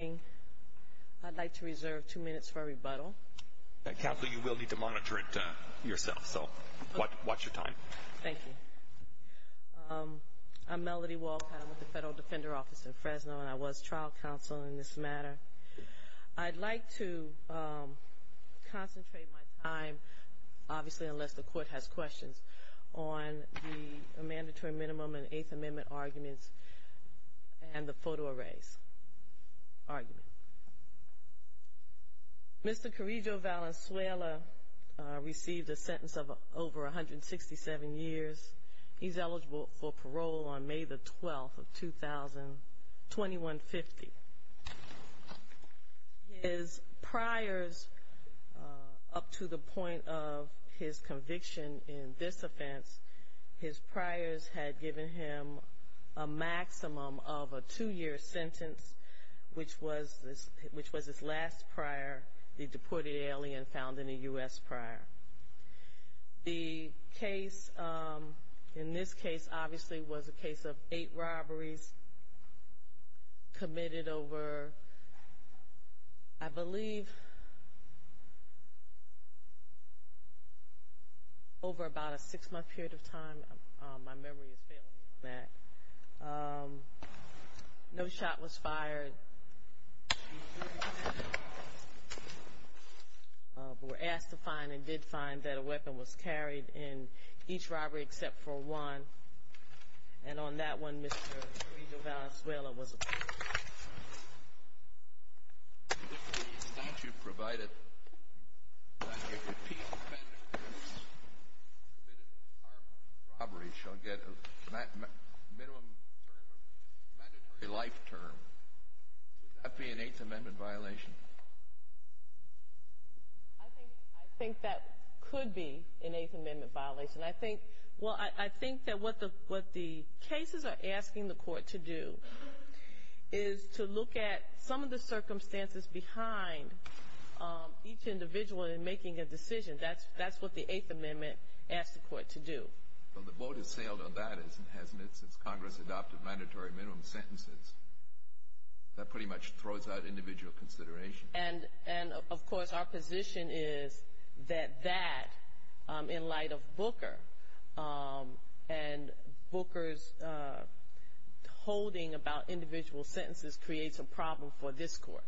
I'd like to reserve two minutes for a rebuttal. Counsel, you will need to monitor it yourself, so watch your time. Thank you. I'm Melody Walcott. I'm with the Federal Defender Office in Fresno, and I was trial counsel in this matter. I'd like to concentrate my time, obviously unless the court has questions, on the mandatory minimum and Eighth Amendment arguments and the photo arrays argument. Mr. Carrillo Valenzuela received a sentence of over 167 years. He's eligible for parole on May the 12th of 2021-50. His priors, up to the point of his conviction in this offense, his priors had given him a maximum of a two-year sentence, which was his last prior, the deported alien found in a U.S. prior. The case in this case, obviously, was a case of eight robberies committed over, I believe, over about a six-month period of time. My memory is failing me on that. No shot was fired. We were asked to find and did find that a weapon was carried in each robbery except for one. And on that one, Mr. Carrillo Valenzuela was acquitted. If the statute provided that a repeat offender committed armed robbery shall get a minimum term of mandatory life term, would that be an Eighth Amendment violation? I think that could be an Eighth Amendment violation. I think that what the cases are asking the court to do is to look at some of the circumstances behind each individual in making a decision. That's what the Eighth Amendment asks the court to do. Well, the vote has sailed on that, hasn't it, since Congress adopted mandatory minimum sentences. That pretty much throws out individual consideration. And, of course, our position is that that, in light of Booker and Booker's holding about individual sentences creates a problem for this court.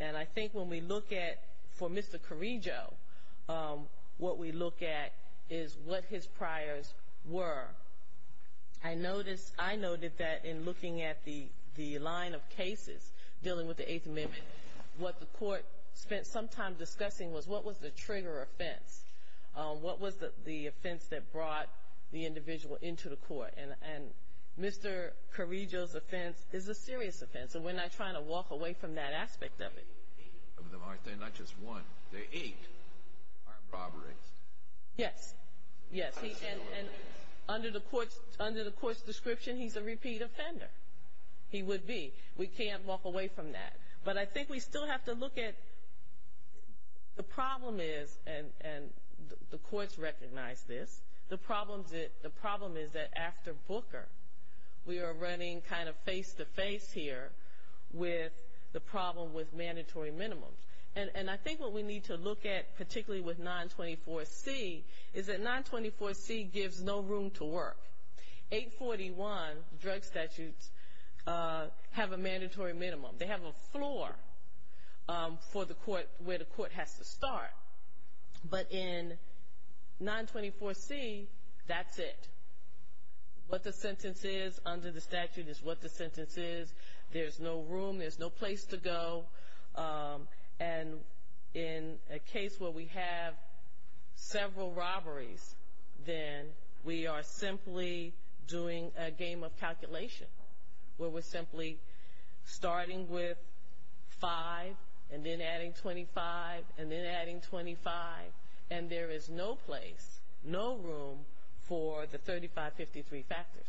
And I think when we look at, for Mr. Carrillo, what we look at is what his priors were. I noticed that in looking at the line of cases dealing with the Eighth Amendment, what the court spent some time discussing was what was the trigger offense, what was the offense that brought the individual into the court. And Mr. Carrillo's offense is a serious offense, and we're not trying to walk away from that aspect of it. They're not just one. There are eight armed robberies. Yes. And under the court's description, he's a repeat offender. He would be. We can't walk away from that. But I think we still have to look at the problem is, and the courts recognize this, the problem is that after Booker, we are running kind of face-to-face here with the problem with mandatory minimums. And I think what we need to look at, particularly with 924C, is that 924C gives no room to work. 841 drug statutes have a mandatory minimum. They have a floor for the court where the court has to start. But in 924C, that's it. What the sentence is under the statute is what the sentence is. There's no room. There's no place to go. And in a case where we have several robberies, then we are simply doing a game of calculation, where we're simply starting with five and then adding 25 and then adding 25, and there is no place, no room for the 3553 factors.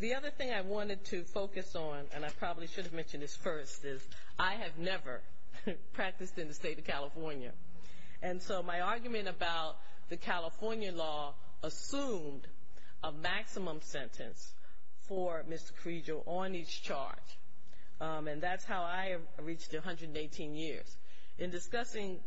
The other thing I wanted to focus on, and I probably should have mentioned this first, is I have never practiced in the state of California. And so my argument about the California law assumed a maximum sentence for Mr. Carrego on each charge. And that's how I reached 118 years. In discussing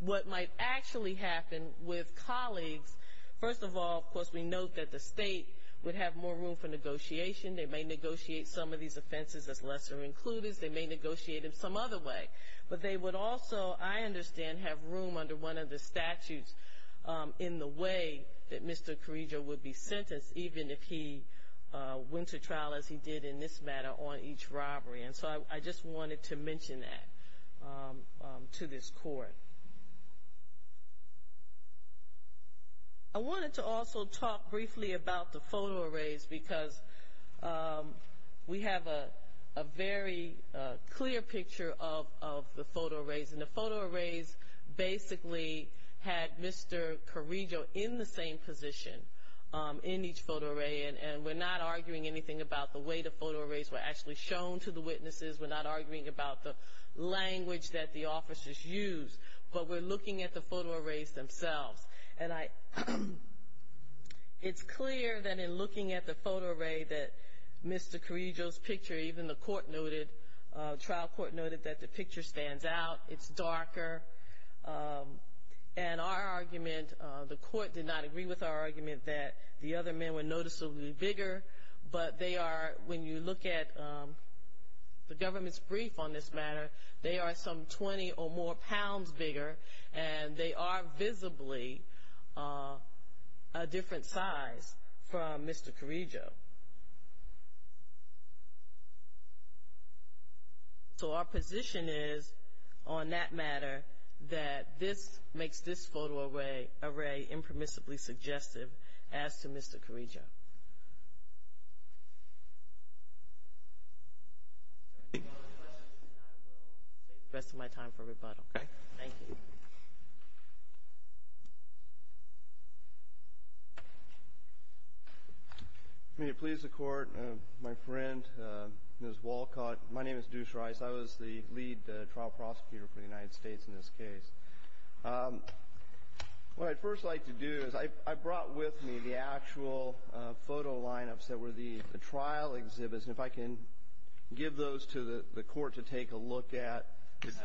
what might actually happen with colleagues, first of all, of course, we note that the state would have more room for negotiation. They may negotiate some of these offenses as lesser-included. They may negotiate them some other way. But they would also, I understand, have room under one of the statutes in the way that Mr. Carrego would be sentenced, even if he went to trial, as he did in this matter, on each robbery. And so I just wanted to mention that to this Court. I wanted to also talk briefly about the photo arrays because we have a very clear picture of the photo arrays. And the photo arrays basically had Mr. Carrego in the same position in each photo array. And we're not arguing anything about the way the photo arrays were actually shown to the witnesses. We're not arguing about the language that the officers used. But we're looking at the photo arrays themselves. And it's clear that in looking at the photo array that Mr. Carrego's picture, even the court noted, trial court noted that the picture stands out. It's darker. And our argument, the court did not agree with our argument that the other men were noticeably bigger. But they are, when you look at the government's brief on this matter, they are some 20 or more pounds bigger. And they are visibly a different size from Mr. Carrego. So our position is on that matter that this makes this photo array impermissibly suggestive as to Mr. Carrego. Thank you. I will save the rest of my time for rebuttal. Okay. Thank you. May it please the Court, my friend, Ms. Walcott, my name is Deuce Rice. I was the lead trial prosecutor for the United States in this case. What I'd first like to do is I brought with me the actual photo lineups that were the trial exhibits. And if I can give those to the court to take a look at.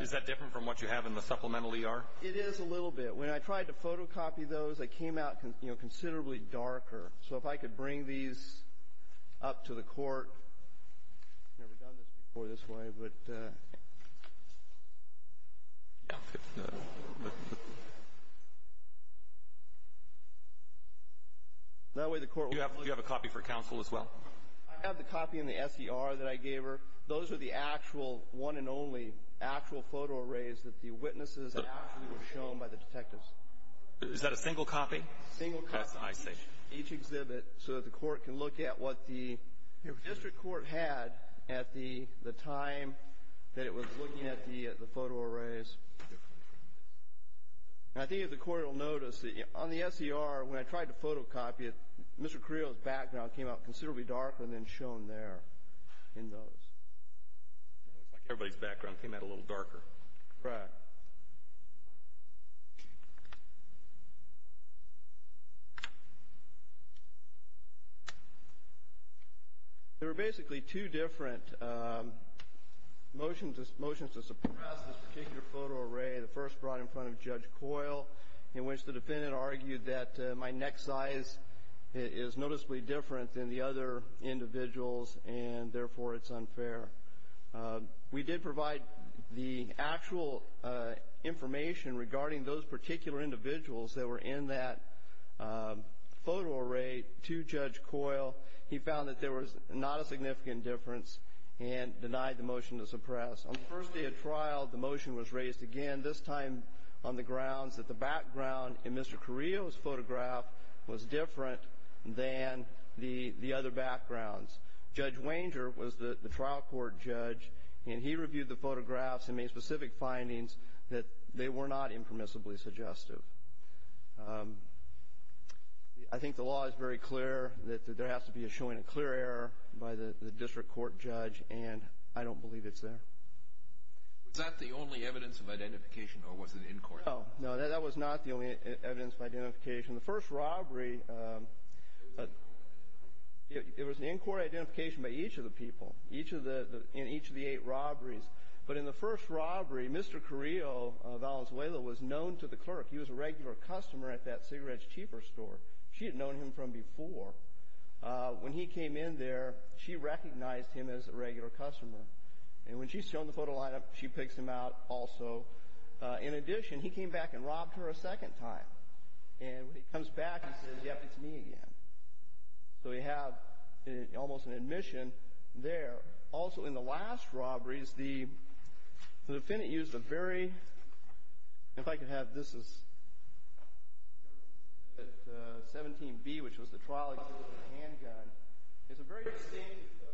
Is that different from what you have in the supplemental ER? It is a little bit. When I tried to photocopy those, they came out considerably darker. So if I could bring these up to the court. I've never done this before this way, but. That way the court will. Do you have a copy for counsel as well? I have the copy in the SDR that I gave her. Those are the actual one and only actual photo arrays that the witnesses actually were shown by the detectives. Is that a single copy? Single copy. Each exhibit so that the court can look at what the district court had at the time that it was looking at the photo arrays. I think the court will notice that on the SDR, when I tried to photocopy it, Mr. Carrillo's background came out considerably darker than shown there in those. Looks like everybody's background came out a little darker. Correct. There were basically two different motions to suppress this particular photo array. The first brought in front of Judge Coyle, in which the defendant argued that my neck size is noticeably different than the other individuals, and therefore it's unfair. We did provide the actual information regarding those particular individuals that were in that photo array to Judge Coyle. He found that there was not a significant difference and denied the motion to suppress. On the first day of trial, the motion was raised again, this time on the grounds that the background in Mr. Carrillo's photograph was different than the other backgrounds. Judge Wanger was the trial court judge, and he reviewed the photographs and made specific findings that they were not impermissibly suggestive. I think the law is very clear that there has to be a showing of clear error by the district court judge, and I don't believe it's there. Was that the only evidence of identification, or was it in court? No, that was not the only evidence of identification. The first robbery, it was an in-court identification by each of the people in each of the eight robberies. But in the first robbery, Mr. Carrillo Valenzuela was known to the clerk. He was a regular customer at that Cigarettes Cheaper store. She had known him from before. When he came in there, she recognized him as a regular customer. And when she's shown the photo line-up, she picks him out also. In addition, he came back and robbed her a second time. And when he comes back, he says, yep, it's me again. So we have almost an admission there. Also, in the last robberies, the defendant used a very—if I could have this. This is at 17B, which was the trial against the handgun. It's a very distinctive pistol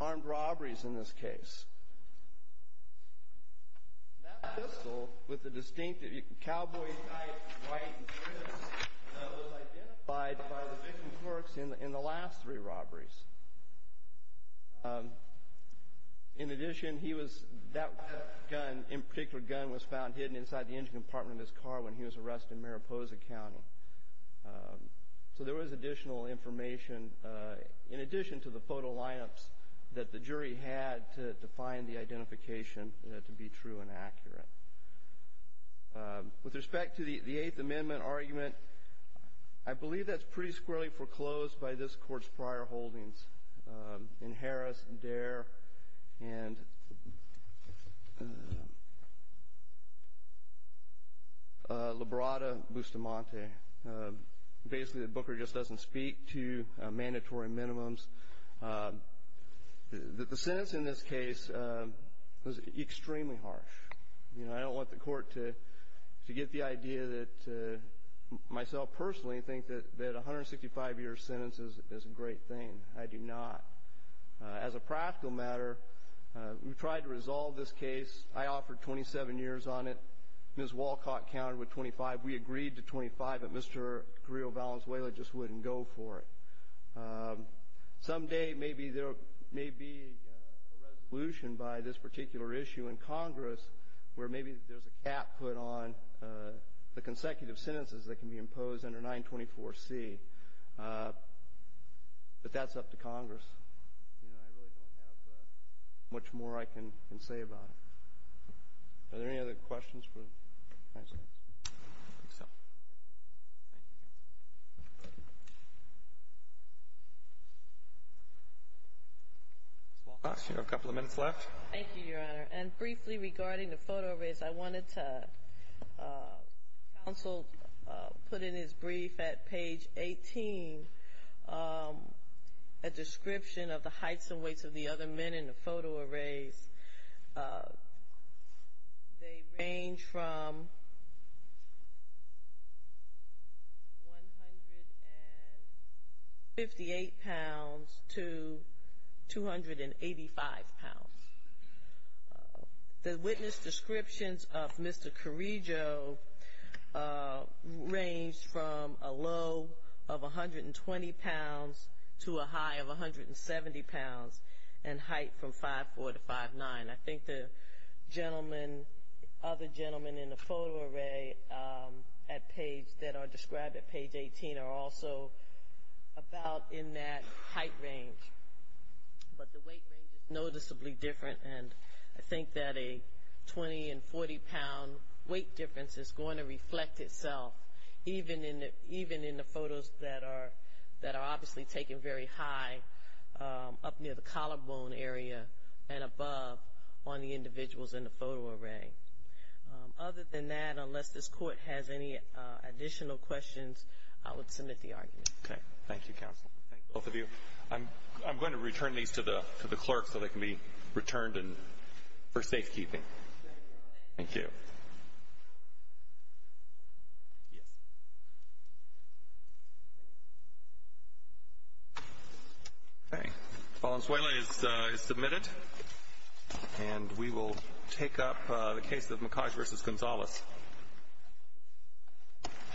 that he used in the last three armed robberies in this case. That pistol, with the distinctive cowboy type, white, and crimson, was identified by the victim's clerks in the last three robberies. In addition, he was—that gun, in particular, gun was found hidden inside the engine compartment of his car when he was arrested in Mariposa County. So there was additional information in addition to the photo line-ups that the jury had to find the identification to be true and accurate. With respect to the Eighth Amendment argument, I believe that's pretty squarely foreclosed by this Court's prior holdings in Harris, Dare, and Labrada-Bustamante. Basically, the Booker just doesn't speak to mandatory minimums. The sentence in this case was extremely harsh. I don't want the Court to get the idea that— myself personally, I think that a 165-year sentence is a great thing. I do not. As a practical matter, we tried to resolve this case. I offered 27 years on it. Ms. Walcott counted with 25. We agreed to 25, but Mr. Carrillo Valenzuela just wouldn't go for it. Someday, maybe there may be a resolution by this particular issue in Congress where maybe there's a cap put on the consecutive sentences that can be imposed under 924C. But that's up to Congress. I really don't have much more I can say about it. Are there any other questions? I think so. Ms. Walcott, you have a couple of minutes left. Thank you, Your Honor. And briefly regarding the photo arrays, I wanted to— counsel put in his brief at page 18 a description of the heights and weights of the other men in the photo arrays. They range from 158 pounds to 285 pounds. The witness descriptions of Mr. Carrillo range from a low of 120 pounds to a high of 170 pounds and height from 5'4 to 5'9. I think the other gentlemen in the photo array that are described at page 18 are also about in that height range. But the weight range is noticeably different, and I think that a 20- and 40-pound weight difference is going to reflect itself, even in the photos that are obviously taken very high up near the collarbone area and above on the individuals in the photo array. Other than that, unless this Court has any additional questions, I would submit the argument. Okay. Thank you, counsel. Both of you. I'm going to return these to the clerk so they can be returned for safekeeping. Thank you. Valenzuela is submitted, and we will take up the case of McCodge v. Gonzalez.